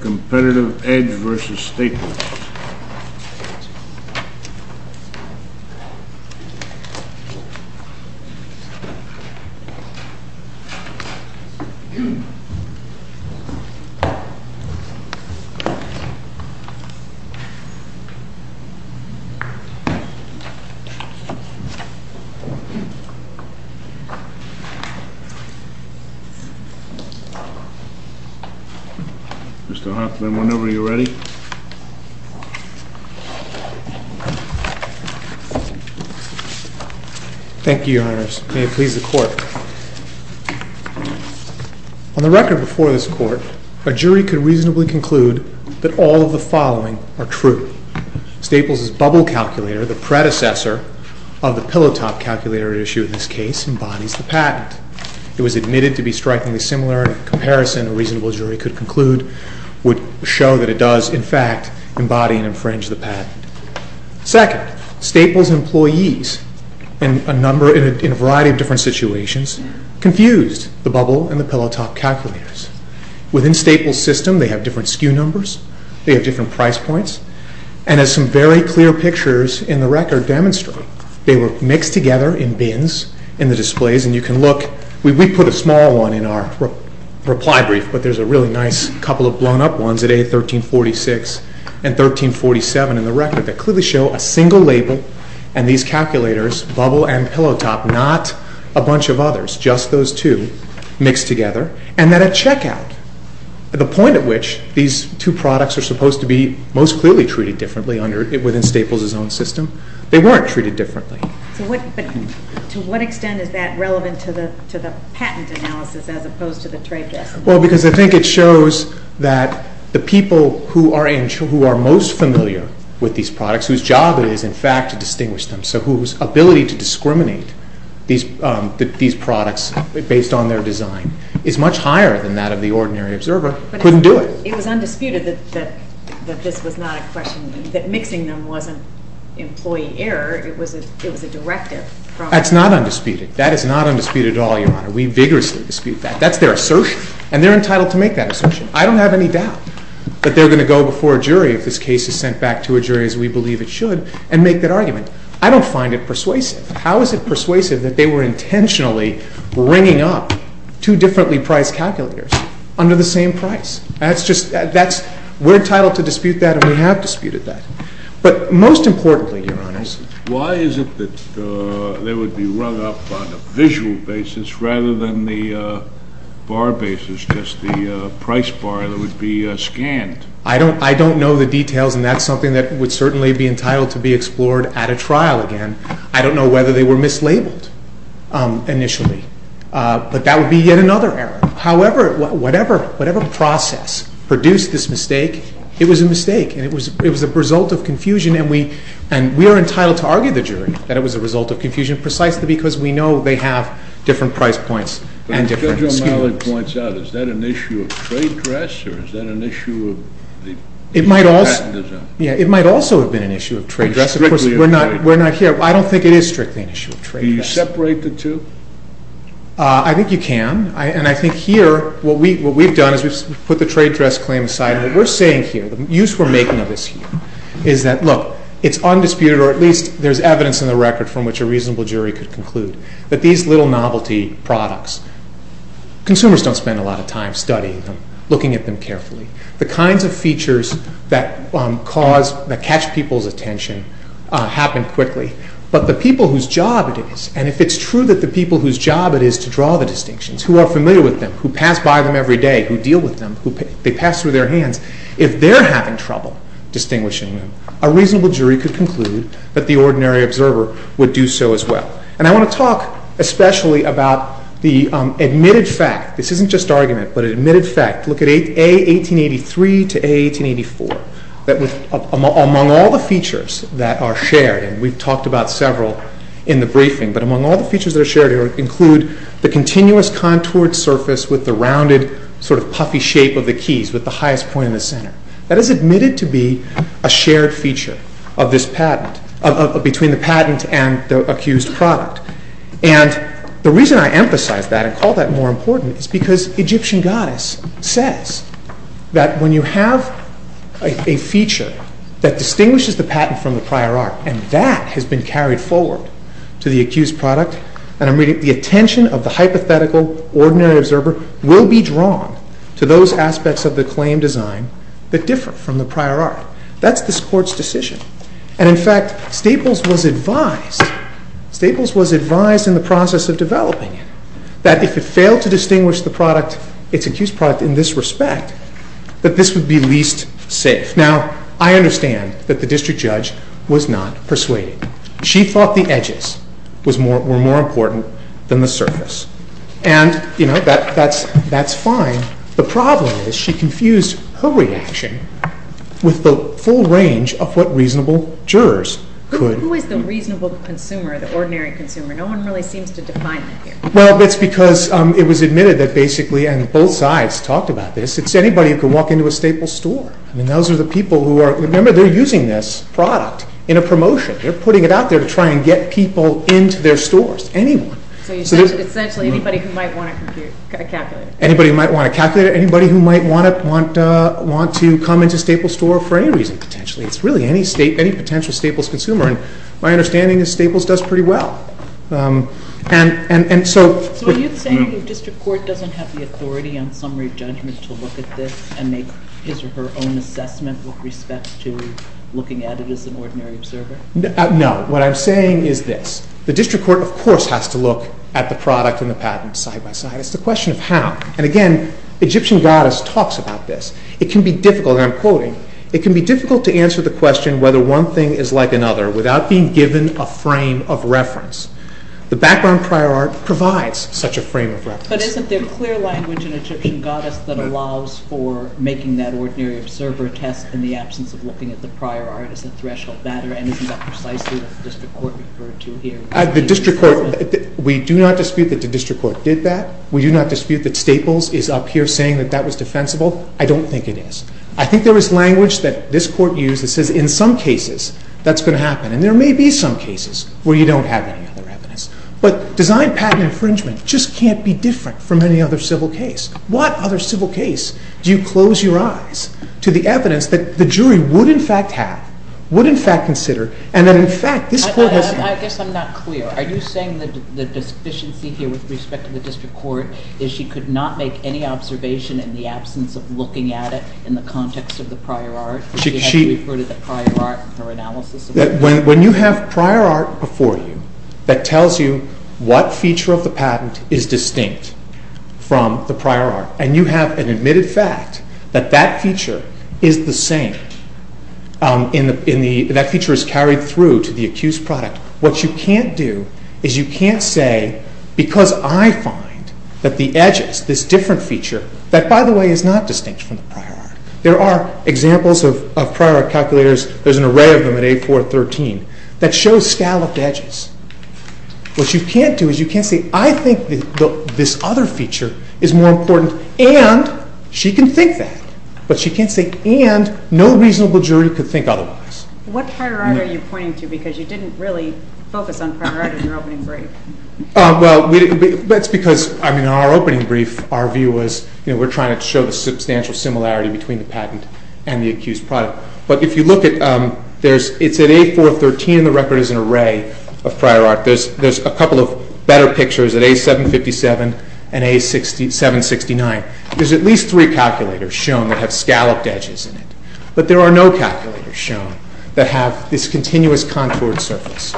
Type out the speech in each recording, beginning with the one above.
COMPETITIVE EDGE v. STAPLES On the record before this Court, a jury could reasonably conclude that all of the following are true. Staples' bubble calculator, the predecessor of the pillow-top calculator at issue in this case, embodies the patent. It was admitted to be strikingly similar in comparison to Staples' bubble calculator at issue in this case, and a reasonable jury could conclude would show that it does, in fact, embody and infringe the patent. Second, Staples' employees in a variety of different situations confused the bubble and the pillow-top calculators. Within Staples' system, they have different skew numbers, they have different price points, and as some very clear pictures in the record demonstrate, they were mixed together in bins in the displays, and you can look, we put a small one in our reply brief, but there's a really nice couple of blown-up ones at A1346 and A1347 in the record that clearly show a single label and these calculators, bubble and pillow-top, not a bunch of others, just those two mixed together, and then a check-out, the point at which these two products are supposed to be most clearly treated differently within Staples' own system. They weren't treated differently. So what, to what extent is that relevant to the patent analysis as opposed to the trade test? Well, because I think it shows that the people who are most familiar with these products, whose job it is, in fact, to distinguish them, so whose ability to discriminate these products based on their design is much higher than that of the ordinary observer, couldn't do it. It was undisputed that this was not a question, that mixing them wasn't employee error, it was a directive. That's not undisputed. That is not undisputed at all, Your Honor. We vigorously dispute that. That's their assertion, and they're entitled to make that assertion. I don't have any doubt that they're going to go before a jury if this case is sent back to a jury as we believe it should and make that argument. I don't find it persuasive. How is it persuasive that they were intentionally bringing up two differently-priced calculators under the same price? We're entitled to dispute that, and we have disputed that. But most importantly, Your Honors, why is it that they would be run up on a visual basis rather than the bar basis, just the price bar that would be scanned? I don't know the details, and that's something that would certainly be entitled to be explored at a trial again. I don't know whether they were mislabeled initially, but that would be yet another error. However, whatever process produced this mistake, it was a mistake, and it was a result of confusion, and we are entitled to argue the jury that it was a result of confusion precisely because we know they have different price points and different skew points. But as Judge O'Malley points out, is that an issue of trade dress, or is that an issue of the patent design? It might also have been an issue of trade dress. Strictly of trade dress. Of course, we're not here. I don't think it is strictly an issue of trade dress. Can you separate the two? I think you can, and I think here what we've done is we've put the trade dress claim aside, and what we're saying here, the use we're making of this here, is that look, it's undisputed, or at least there's evidence in the record from which a reasonable jury could conclude, that these little novelty products, consumers don't spend a lot of time studying them, looking at them carefully. The kinds of features that catch people's attention happen quickly, but the people whose job it is, and if it's true that the people whose job it is to draw the distinctions, who are familiar with them, who pass by them every day, who deal with them, they pass through their hands, if they're having trouble distinguishing them, a reasonable jury could conclude that the ordinary observer would do so as well. And I want to talk especially about the admitted fact. This isn't just argument, but an admitted fact. Look at A1883 to A1884. Among all the features that are shared, and we've talked about several in the briefing, but among all the features that are shared here include the continuous contoured surface with the rounded, sort of puffy shape of the keys with the highest point in the center. That is admitted to be a shared feature of this patent, between the patent and the accused product. And the reason I emphasize that and call that more important is because Egyptian goddess says that when you have a feature that distinguishes the patent from the prior art, and that has been carried forward to the accused product, and I'm reading, the attention of the hypothetical ordinary observer will be drawn to those aspects of the claim design that differ from the prior art. That's this Court's decision. And in fact, Staples was advised, Staples was advised in the process of developing it, that if it failed to distinguish the product, its accused product, in this respect, that this would be least safe. Now, I understand that the district judge was not persuaded. She thought the edges were more important than the surface. And, you know, that's fine. The problem is she confused her reaction with the full range of what reasonable jurors could. Who is the reasonable consumer, the ordinary consumer? No one really seems to define that here. Well, it's because it was admitted that basically, and both sides talked about this, it's anybody who can walk into a Staples store. I mean, those are the people who are, remember, they're using this product in a promotion. They're putting it out there to try and get people into their stores. Anyone. So, essentially, anybody who might want to compute, calculate it. Anybody who might want to calculate it. Anybody who might want to come into a Staples store for any reason, potentially. It's really any potential Staples consumer. And my understanding is Staples does pretty well. So are you saying the district court doesn't have the authority on summary judgment to look at this and make his or her own assessment with respect to looking at it as an ordinary observer? No. What I'm saying is this. The district court, of course, has to look at the product and the patent side by side. It's a question of how. And, again, Egyptian goddess talks about this. It can be difficult, and I'm quoting, it can be difficult to answer the question whether one thing is like another without being given a frame of reference. The background prior art provides such a frame of reference. But isn't there clear language in Egyptian goddess that allows for making that ordinary observer test in the absence of looking at the prior art as a threshold matter? And isn't that precisely what the district court referred to here? We do not dispute that the district court did that. We do not dispute that Staples is up here saying that that was defensible. I don't think it is. I think there is language that this court used that says in some cases that's going to happen. And there may be some cases where you don't have any other evidence. But design patent infringement just can't be different from any other civil case. What other civil case do you close your eyes to the evidence that the jury would in fact have, would in fact consider, and that, in fact, this court has done? I guess I'm not clear. Are you saying that the deficiency here with respect to the district court is she could not make any observation in the absence of looking at it in the context of the prior art? She had to refer to the prior art for analysis? When you have prior art before you that tells you what feature of the patent is distinct from the prior art, and you have an admitted fact that that feature is the same, that feature is carried through to the accused product, what you can't do is you can't say, because I find that the edges, this different feature, that by the way is not distinct from the prior art. There are examples of prior art calculators, there's an array of them at 8, 4, 13, that shows scalloped edges. What you can't do is you can't say, I think this other feature is more important, and she can think that. But she can't say, and no reasonable jury could think otherwise. What prior art are you pointing to, because you didn't really focus on prior art in your opening brief? Well, that's because, I mean, in our opening brief, our view was, you know, we're trying to show the substantial similarity between the patent and the accused product. But if you look at, it's at 8, 4, 13, and the record is an array of prior art. There's a couple of better pictures at 8, 7, 57 and 8, 7, 69. There's at least three calculators shown that have scalloped edges in it, but there are no calculators shown that have this continuous contoured surface.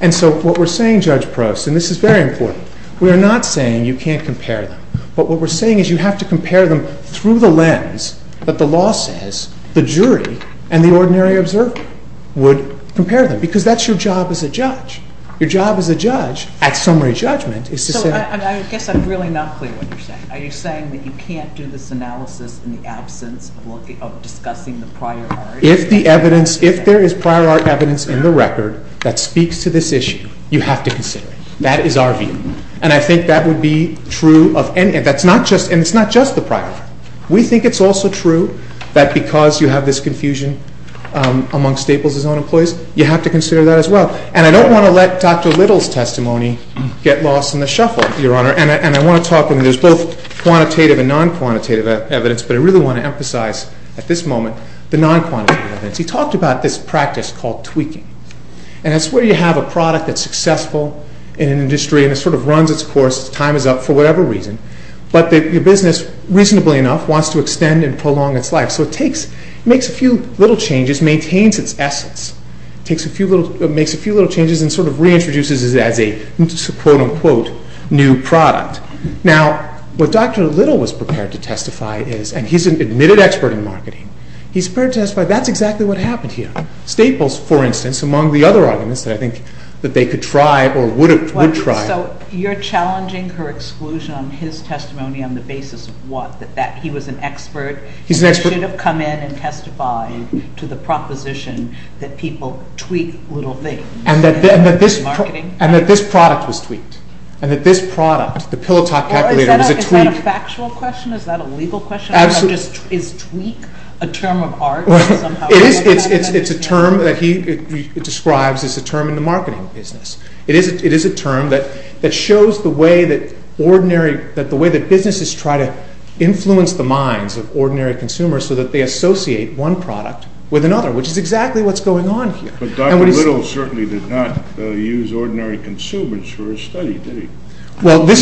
And so what we're saying, Judge Prost, and this is very important, we are not saying you can't compare them, but what we're saying is you have to compare them through the lens that the law says the jury and the ordinary observer would compare them, because that's your job as a judge. Your job as a judge at summary judgment is to say... So I guess I'm really not clear what you're saying. Are you saying that you can't do this analysis in the absence of discussing the prior art? If the evidence, if there is prior art evidence in the record that speaks to this issue, you have to consider it. That is our view. And I think that would be true of any... And it's not just the prior art. We think it's also true that because you have this confusion among Staples' own employees, you have to consider that as well. And I don't want to let Dr. Little's testimony get lost in the shuffle, Your Honor. And I want to talk... There's both quantitative and non-quantitative evidence, but I really want to emphasize at this moment the non-quantitative evidence. He talked about this practice called tweaking. And that's where you have a product that's time is up for whatever reason, but your business, reasonably enough, wants to extend and prolong its life. So it makes a few little changes, maintains its essence, makes a few little changes and sort of reintroduces it as a quote-unquote new product. Now what Dr. Little was prepared to testify is, and he's an admitted expert in marketing, he's prepared to testify that's exactly what happened here. Staples, for instance, among the other arguments that I think that they could try or would try... So you're challenging her exclusion on his testimony on the basis of what? That he was an expert? He's an expert. And they should have come in and testified to the proposition that people tweak little things? And that this product was tweaked? And that this product, the Pilotok calculator, was it tweaked? Or is that a factual question? Is that a legal question? Absolutely. Is tweak a term of art somehow? It is. It's a term that he describes as a term in the marketing business. It is a term that shows the way that ordinary, that the way that businesses try to influence the minds of ordinary consumers so that they associate one product with another, which is exactly what's going on here. But Dr. Little certainly did not use ordinary consumers for his study, did he? Well, this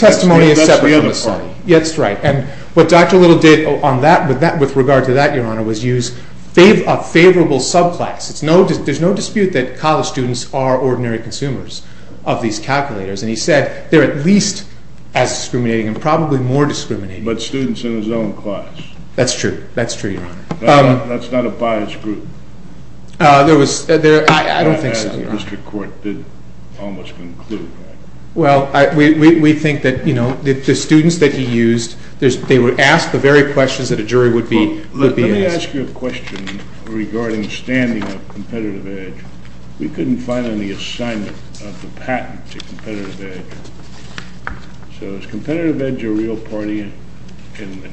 testimony is separate from the study. That's the other part of it. Yes, that's right. And what Dr. Little did on that, with regard to that, Your Honor, was use a favorable subclass. There's no dispute that college students are ordinary consumers of these calculators. And he said they're at least as discriminating and probably more discriminating. But students in his own class. That's true. That's true, Your Honor. That's not a biased group. There was... I don't think so, Your Honor. The district court did almost conclude that. Well, we think that, you know, the students that he used, they were asked the very questions that a jury would be asked. Well, let me ask you a question regarding the standing of competitive edge. We couldn't find any assignment of the patent to competitive edge. So is competitive edge a real party?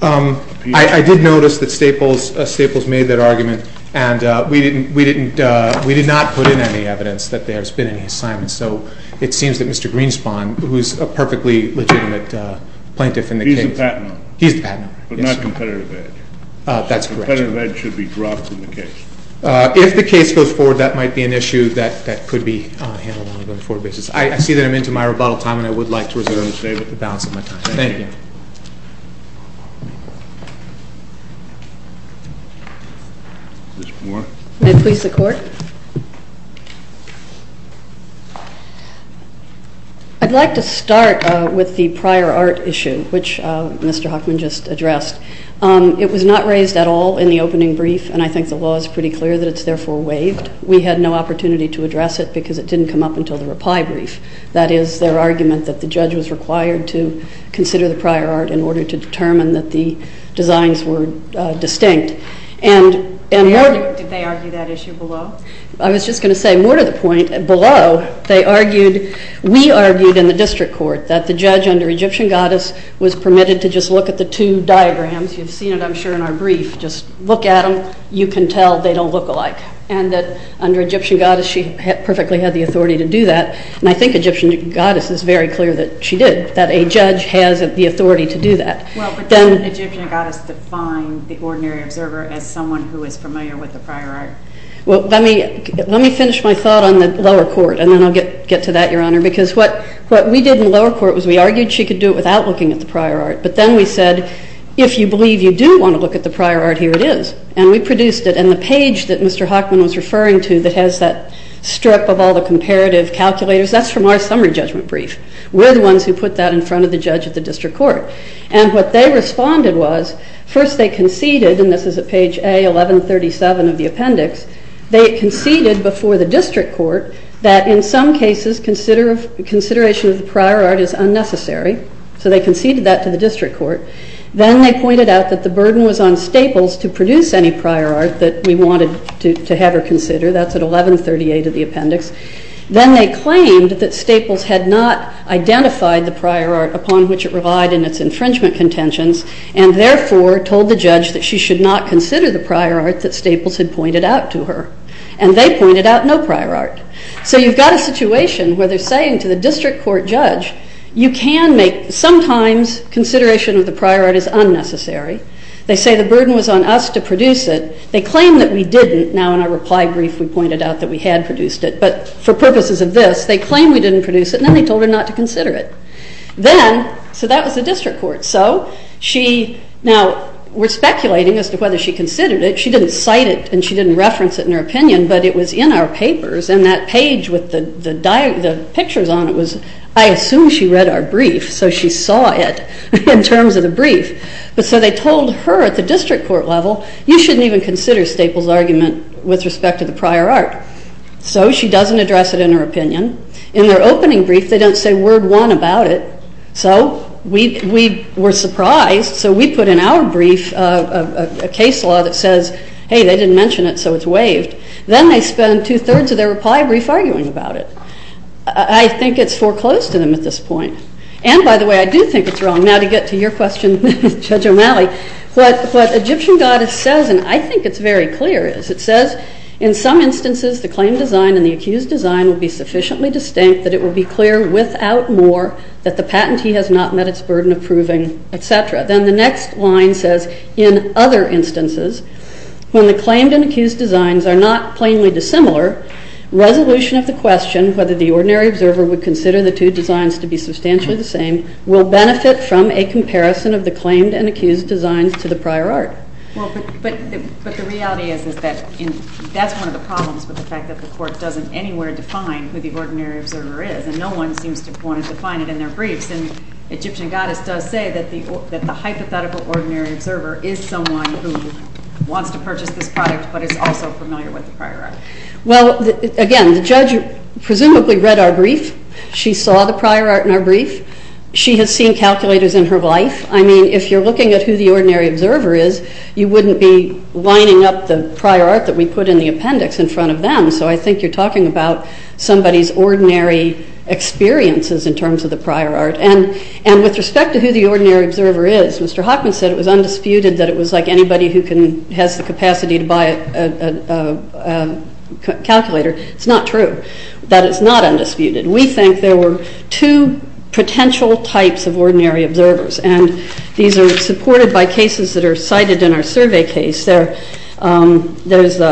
I did notice that Staples made that argument, and we did not put in any evidence that there's been any assignments. So it seems that Mr. Greenspun, who's a perfectly legitimate plaintiff in the case... He's the patent owner. He's the patent owner, yes, Your Honor. But not competitive edge. That's correct, Your Honor. Competitive edge should be dropped in the case. If the case goes forward, that might be an issue that could be handled on a going-forward basis. I see that I'm into my rebuttal time, and I would like to reserve the balance of my time. Thank you. Ms. Moore. May it please the Court. I'd like to start with the prior art issue, which Mr. Huckman just addressed. It was not raised at all in the opening brief, and I think the law is pretty clear that it's therefore waived. We had no opportunity to address it because it didn't come up until the reply brief. That is, their argument that the judge was required to consider the prior art in order to determine that the designs were distinct. Did they argue that issue below? I was just going to say, more to the point, below, they argued, we argued in the district court, that the judge under Egyptian Goddess was permitted to just look at the two diagrams. You've seen it, I'm sure, in our brief. Just look at them. You can tell they don't look alike, and that under Egyptian Goddess, she perfectly had the authority to do that, and I think Egyptian Goddess is very clear that she did, that a judge has the authority to do that. Well, but doesn't Egyptian Goddess define the ordinary observer as someone who is familiar with the prior art? Well, let me finish my thought on the lower court, and then I'll get to that, Your Honor, because what we did in the lower court was we argued she could do it without looking at the prior art, but then we said, if you believe you do want to look at the prior art, here it is, and we produced it, and the page that Mr. Hockman was referring to that has that strip of all the comparative calculators, that's from our summary judgment brief. We're the ones who put that in front of the judge at the district court, and what they They conceded before the district court that in some cases, consideration of the prior art is unnecessary, so they conceded that to the district court. Then they pointed out that the burden was on Staples to produce any prior art that we wanted to have her consider, that's at 1138 of the appendix. Then they claimed that Staples had not identified the prior art upon which it relied in its infringement contentions, and therefore told the judge that she should not consider the prior art that Staples had pointed out to her, and they pointed out no prior art. So you've got a situation where they're saying to the district court judge, you can make, sometimes consideration of the prior art is unnecessary, they say the burden was on us to produce it, they claim that we didn't, now in our reply brief we pointed out that we had produced it, but for purposes of this, they claim we didn't produce it, and then they told her not to consider it. Then, so that was the whether she considered it, she didn't cite it, and she didn't reference it in her opinion, but it was in our papers, and that page with the pictures on it was, I assume she read our brief, so she saw it in terms of the brief, but so they told her at the district court level, you shouldn't even consider Staples' argument with respect to the prior art. So she doesn't address it in her opinion. In their opening brief, they don't say word one about it, so we were surprised, so we put in our brief a case law that says, hey, they didn't mention it, so it's waived. Then they spend two-thirds of their reply brief arguing about it. I think it's foreclosed to them at this point. And by the way, I do think it's wrong. Now to get to your question, Judge O'Malley, what Egyptian Goddess says, and I think it's very clear, is it says, in some instances the claim design and the court, that the patentee has not met its burden of proving, etc. Then the next line says, in other instances, when the claimed and accused designs are not plainly dissimilar, resolution of the question, whether the ordinary observer would consider the two designs to be substantially the same, will benefit from a comparison of the claimed and accused designs to the prior art. Well, but the reality is that that's one of the problems with the fact that the court doesn't anywhere define who the ordinary observer is, and no one seems to want to define it in their briefs. And Egyptian Goddess does say that the hypothetical ordinary observer is someone who wants to purchase this product, but is also familiar with the prior art. Well, again, the judge presumably read our brief. She saw the prior art in our brief. She has seen calculators in her life. I mean, if you're looking at who the ordinary observer is, you wouldn't be lining up the prior art that we put in the appendix in front of them, so I think you're talking about somebody's ordinary experiences in terms of the prior art. And with respect to who the ordinary observer is, Mr. Hockman said it was undisputed that it was like anybody who has the capacity to buy a calculator. It's not true. That is not undisputed. We think there were two potential types of ordinary observers, and these are supported by cases that are cited in our survey case. There's the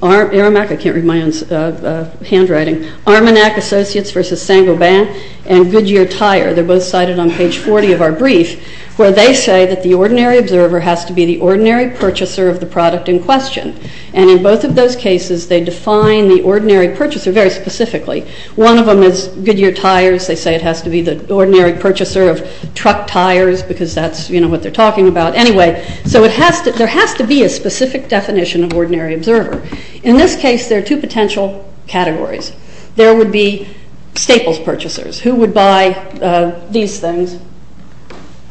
Armanac, I can't read my own handwriting, Armanac Associates versus Saint-Gobain and Goodyear Tire. They're both cited on page 40 of our brief, where they say that the ordinary observer has to be the ordinary purchaser of the product in question. And in both of those cases, they define the ordinary purchaser very specifically. One of them is Goodyear Tires. They say it has to be the ordinary purchaser of truck tires, because that's what they're talking about. Anyway, so there has to be a specific definition of ordinary observer. In this case, there are two potential categories. There would be Staples purchasers, who would buy these things,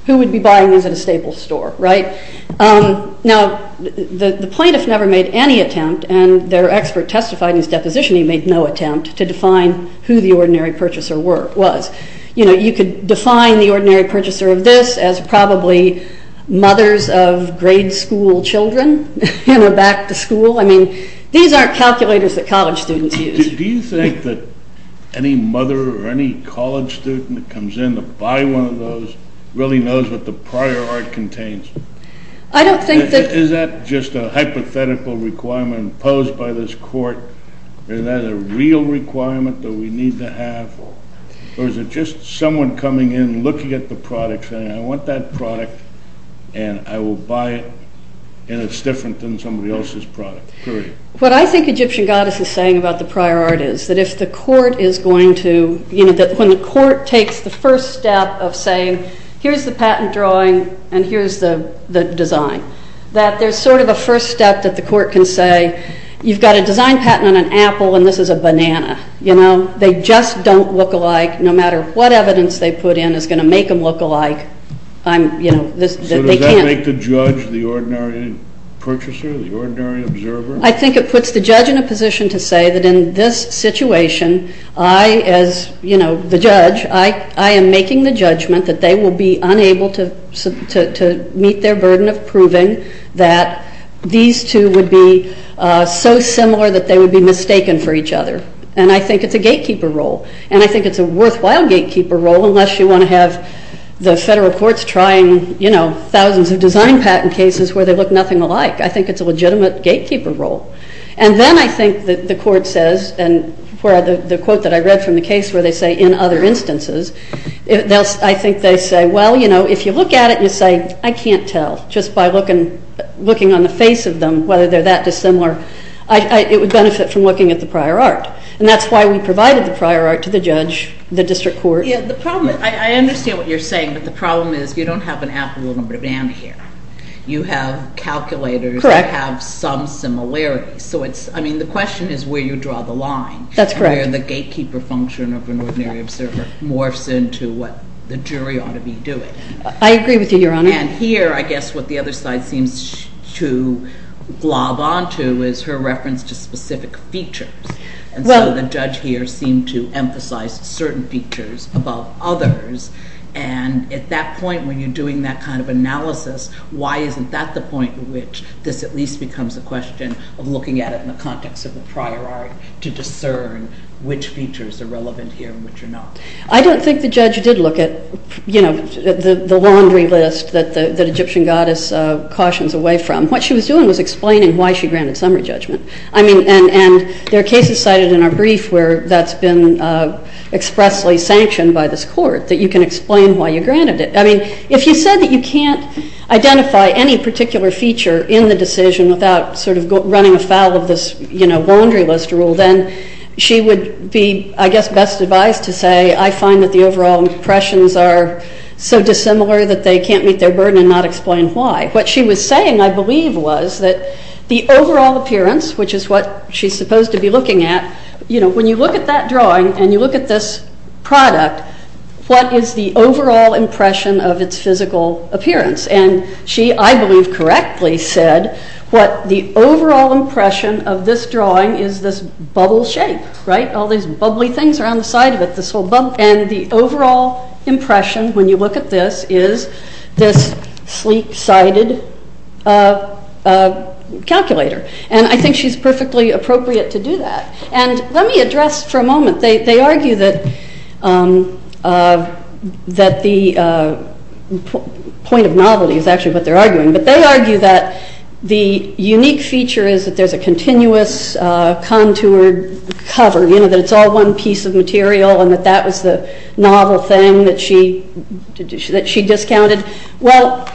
who would be buying these at a Staples store, right? Now, the plaintiff never made any attempt, and their expert testified in his deposition he made no attempt to define who the ordinary purchaser was. You know, you could define the ordinary purchaser of this as probably mothers of grade school children, you know, back to school. I mean, these aren't calculators that college students use. Do you think that any mother or any college student that comes in to buy one of those really knows what the prior art contains? I don't think that... Is that just a hypothetical requirement imposed by this court? Is that a real requirement that we need to have? Or is it just someone coming in, looking at the product, saying, I want that product, and I will buy it, and it's different than somebody else's product, period. What I think Egyptian Goddess is saying about the prior art is that if the court is going to, you know, that when the court takes the first step of saying, here's the patent drawing, and here's the design, that there's sort of a first step that the court can say, you've got a design patent on an apple, and this is a banana. You know, they just don't look alike, no matter what evidence they put in is going to make them look alike. So does that make the judge the ordinary purchaser, the ordinary observer? I think it puts the judge in a position to say that in this situation, I, as, you know, the judge, I am making the judgment that they will be unable to meet their burden of proving that these two would be so similar that they would be mistaken for each other. And I think it's a gatekeeper role, and I think it's a worthwhile gatekeeper role, unless you want to have the federal courts trying, you know, thousands of design patent cases where they look nothing alike. I think it's a legitimate gatekeeper role. And then I think that the court says, and the quote that I read from the case where they say, in other instances, I think they say, well, you know, if you look at it and you say, I can't tell, just by looking on the face of them, whether they're that dissimilar, it would benefit from looking at the prior art. And that's why we provided the prior art to the judge, the district court. Yeah, the problem, I understand what you're saying, but the problem is you don't have an applicable number of data here. You have calculators that have some similarities. So it's, I mean, the question is where you draw the line. That's correct. And where the gatekeeper function of an ordinary observer morphs into what the jury ought to be doing. I agree with you, Your Honor. And here, I guess what the other side seems to glob onto is her reference to specific features. And so the judge here seemed to emphasize certain features above others. And at that point, when you're doing that kind of analysis, why isn't that the point at which this at least becomes a question of looking at it in the context of the prior art to discern which features are relevant here and which are not? I don't think the judge did look at, you know, the laundry list that the Egyptian goddess cautions away from. What she was doing was explaining why she granted summary judgment. I mean, and there are cases cited in our brief where that's been expressly sanctioned by this court that you can explain why you granted it. I mean, if you said that you can't identify any particular feature in the decision without sort of running afoul of this, you know, laundry list rule, then she would be, I guess, best advised to say, I find that the overall impressions are so dissimilar that they can't meet their burden and not explain why. What she was saying, I believe, was that the overall appearance, which is what she's supposed to be looking at, you know, when you look at that drawing and you look at this product, what is the overall impression of its physical appearance? And she, I believe, correctly said what the overall impression of this drawing is this bubble shape, right? All these bubbly things are on the side of it, this whole bubble. And the overall impression when you look at this is this sleek-sided calculator. And I think she's perfectly appropriate to do that. And let me address for a moment, they argue that the point of novelty is actually what they're arguing, but they argue that the unique feature is that there's a continuous contoured cover, you know, that it's all one piece of material and that that was the novel thing that she discounted. Well,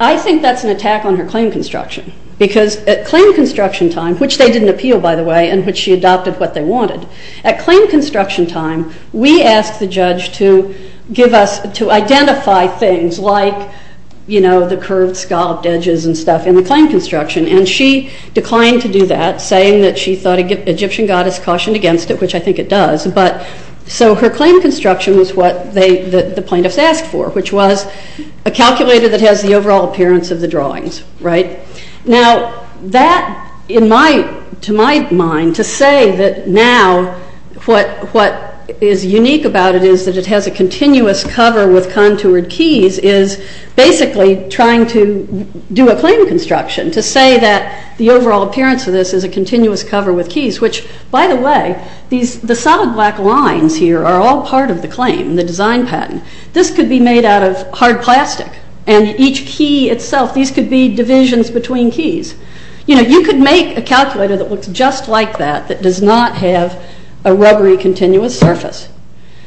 I think that's an attack on her claim construction because at claim construction time, which they didn't appeal, by the way, in which she adopted what they wanted, at claim construction time, we asked the judge to give us, to identify things like, you know, the curved scalloped edges and stuff in the claim construction. And she declined to do that, saying that she thought Egyptian goddess cautioned against it, which I think it does, but so her claim construction was what the plaintiffs asked for, which was a calculator that has the overall appearance of the drawings, right? Now, that, to my mind, to say that now what is unique about it is that it has a continuous cover with contoured keys is basically trying to do a claim construction, to say that the overall appearance of this is a continuous cover with keys, which, by the way, the solid black lines here are all part of the claim, the design patent. This could be made out of hard plastic, and each key itself, these could be divisions between keys. You know, you could make a calculator that looks just like that, that does not have a rubbery continuous surface.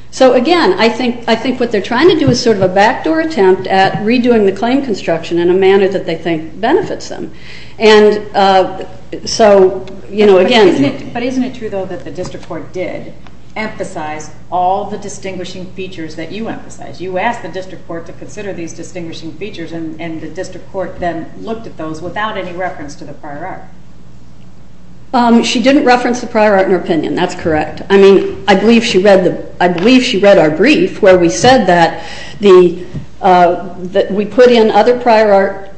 So again, I think what they're trying to do is sort of a backdoor attempt at redoing the claim construction in a manner that they think benefits them. And so, you know, again... But isn't it true, though, that the district court did emphasize all the distinguishing features that you emphasized? You asked the district court to consider these distinguishing features, and the district court then looked at those without any reference to the prior art. She didn't reference the prior art in her opinion. That's correct. I mean, I believe she read our brief where we said that we put in other prior art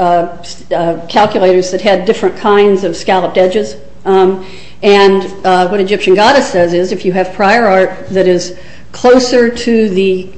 calculators that had different kinds of scalloped edges. And what Egyptian Goddess says is if you have prior art that is closer to the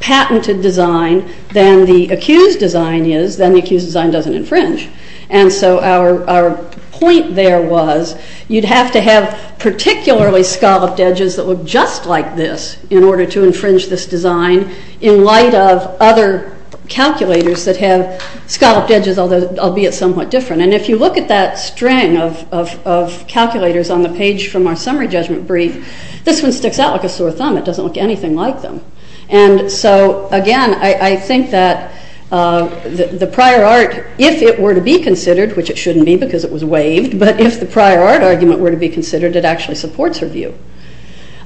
patented design than the accused design is, then the accused design doesn't infringe. And so our point there was you'd have to have particularly scalloped edges that look just like this in order to infringe this design in light of other calculators that have scalloped edges, albeit somewhat different. And if you look at that string of calculators on the page from our summary judgment brief, this one sticks out like a sore thumb. It doesn't look anything like them. And so, again, I think that the prior art, if it were to be considered, which it shouldn't be because it was waived, but if the prior art argument were to be considered, it actually supports her view.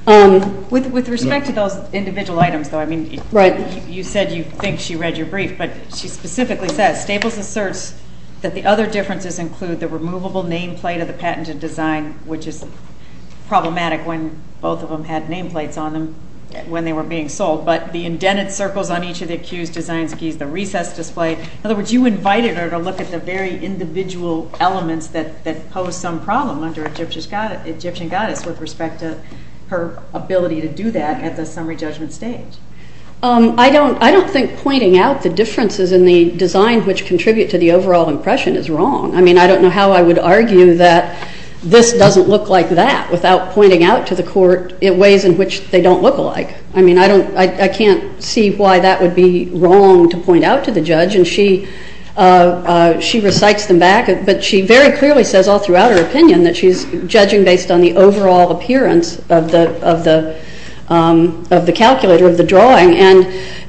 With respect to those individual items, though, I mean, you said you think she read your brief, but she specifically says Staples asserts that the other differences include the removable nameplate of the patented design, which is problematic when both of them had nameplates on them when they were being sold, but the indented circles on each of the accused design keys, the recess display. In other words, you invited her to look at the very individual elements that pose some problem under Egyptian goddess with respect to her ability to do that at the summary judgment stage. I don't think pointing out the differences in the design which contribute to the overall impression is wrong. I mean, I don't know how I would argue that this doesn't look like that without pointing out to the court ways in which they don't look alike. I mean, I can't see why that would be wrong to point out to the judge, and she recites them back, but she very clearly says all throughout her opinion that she's judging based on the overall appearance of the calculator, of the drawing, and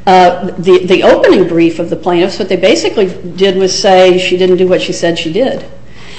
the opening brief of the plaintiff so what they basically did was say she didn't do what she said she did.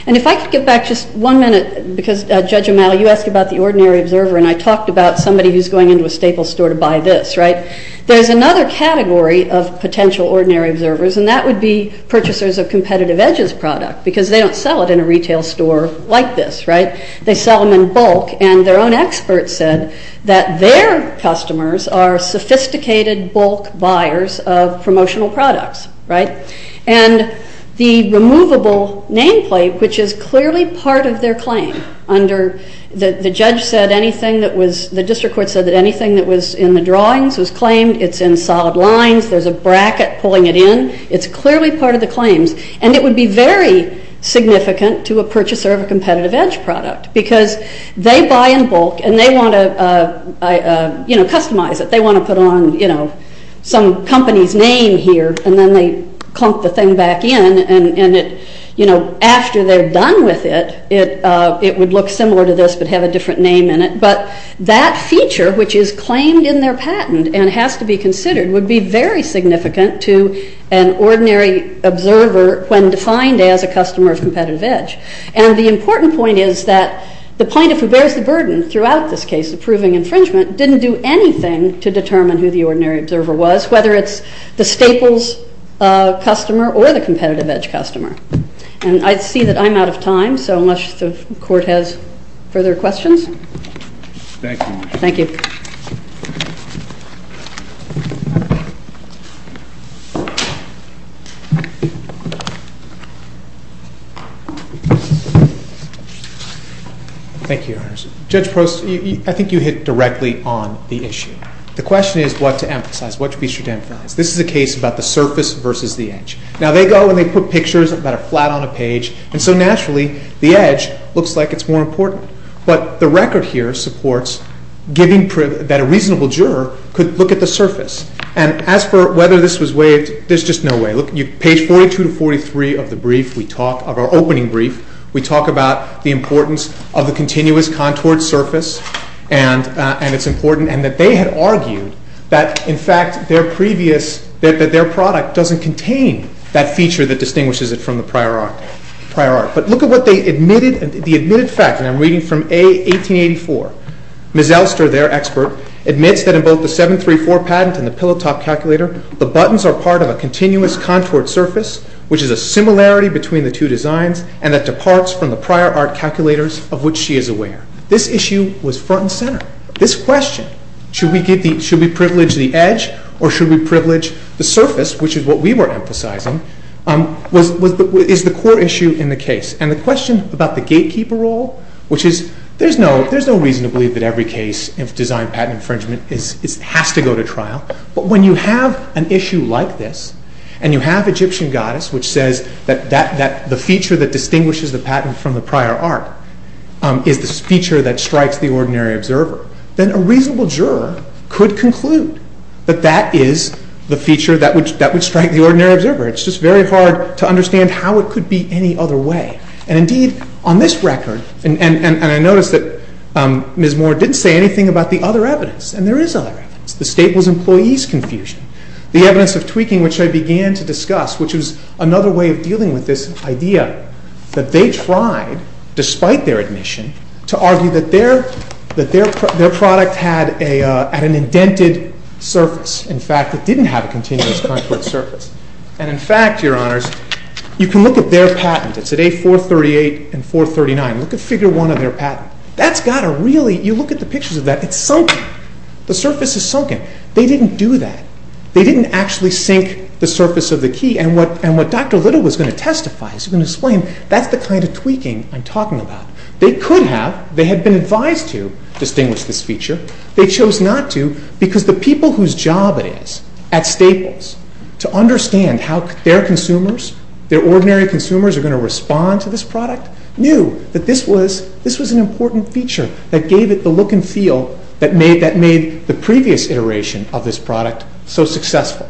And if I could get back just one minute because Judge O'Malley, you asked about the ordinary observer and I talked about somebody who's going into a staple store to buy this, right? There's another category of potential ordinary observers and that would be purchasers of competitive edges product because they don't sell it in a retail store like this, right? They sell them in bulk and their own experts said that their customers are sophisticated bulk buyers of promotional products, right? And the removable nameplate which is clearly part of their claim under the judge said anything that was, the district court said that anything that was in the drawings was claimed, it's in solid lines, there's a bracket pulling it in, it's clearly part of the claims and it would be very significant to a purchaser of a competitive edge product because they buy in bulk and they want to, you know, customize it. They want to put on, you know, some company's name here and then they clump the thing back in and it, you know, after they're done with it, it would look similar to this but have a different name in it but that feature which is claimed in their patent and has to be considered would be very significant to an ordinary observer when defined as a customer of competitive edge and the important point is that the plaintiff who bears the burden throughout this case approving infringement didn't do anything to determine who the ordinary observer was whether it's the staples customer or the competitive edge customer and I see that I'm out of time so unless the court has further questions? Thank you. Thank you. Thank you, Your Honor. Judge Post, I think you hit directly on the issue. The question is what to emphasize, what to be sure to emphasize. This is a case about the surface versus the edge. Now they go and they put pictures that are flat on a page and so naturally the edge looks like it's more important but the record here supports giving, that a reasonable juror could look at the surface and as for whether this was waived there's just no way. Look, page 42 to 43 of the brief we talk of our opening brief we talk about the importance of the continuous contoured surface and it's important and that they had argued that in fact their previous that their product doesn't contain that feature that distinguishes it from the prior art. But look at what they admitted the admitted fact and I'm reading from A. 1884 Ms. Elster, their expert admits that in both the 734 patent and the pillow top calculator the buttons are part of a continuous contoured surface which is a similarity between the two designs and that departs from the prior art calculators of which she is aware. This issue was front and center. This question should we give the should we privilege the edge or should we privilege the surface which is what we were emphasizing was is the core issue in the case and the question about the gatekeeper role which is there's no there's no reason to believe that every case of design patent infringement has to go to trial but when you have an issue like this and you have Egyptian goddess which says that the feature that distinguishes the patent from the prior art is the feature that strikes the ordinary observer then a reasonable juror could conclude that that is the feature that would that would strike the ordinary observer. It's just very hard to understand how it could be any other way and indeed on this record and I noticed that Ms. Moore didn't say anything about the other evidence and there is other evidence. The state was employees confusion. The evidence of tweaking which I began to discuss which was another way of dealing with this idea that they tried despite their admission to argue that their that their their product had a an indented surface in fact it didn't have a continuous conflict surface and in fact your honors you can look at their patent it's at A438 and 439 look at figure 1 of their patent that's got a really you look at the pictures of that it's sunken the surface is sunken they didn't do that they didn't actually sink the surface of the key and what and what Dr. Little was going to testify he was going to explain that's the kind of tweaking I'm talking about. They could have they had been advised to distinguish this feature they chose not to because the people whose job it is at Staples to understand how their consumers their ordinary consumers are going to respond to this product knew that this was this was an important feature that gave it the look and feel that made that made the previous iteration of this product so successful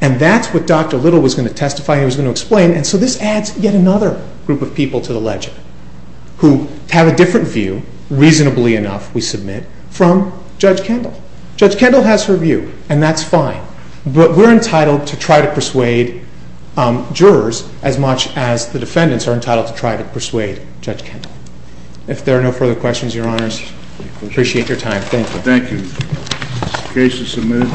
and that's what Dr. Little was going to testify he was going to explain and so this adds yet another group of people to the legend who have a different view reasonably enough we submit from Judge Kendall Judge Kendall has her view and that's fine but we're entitled to try to persuade jurors as much as the defendants are entitled to try to persuade Judge Kendall if there are no further questions your honors appreciate your time thank you case is submitted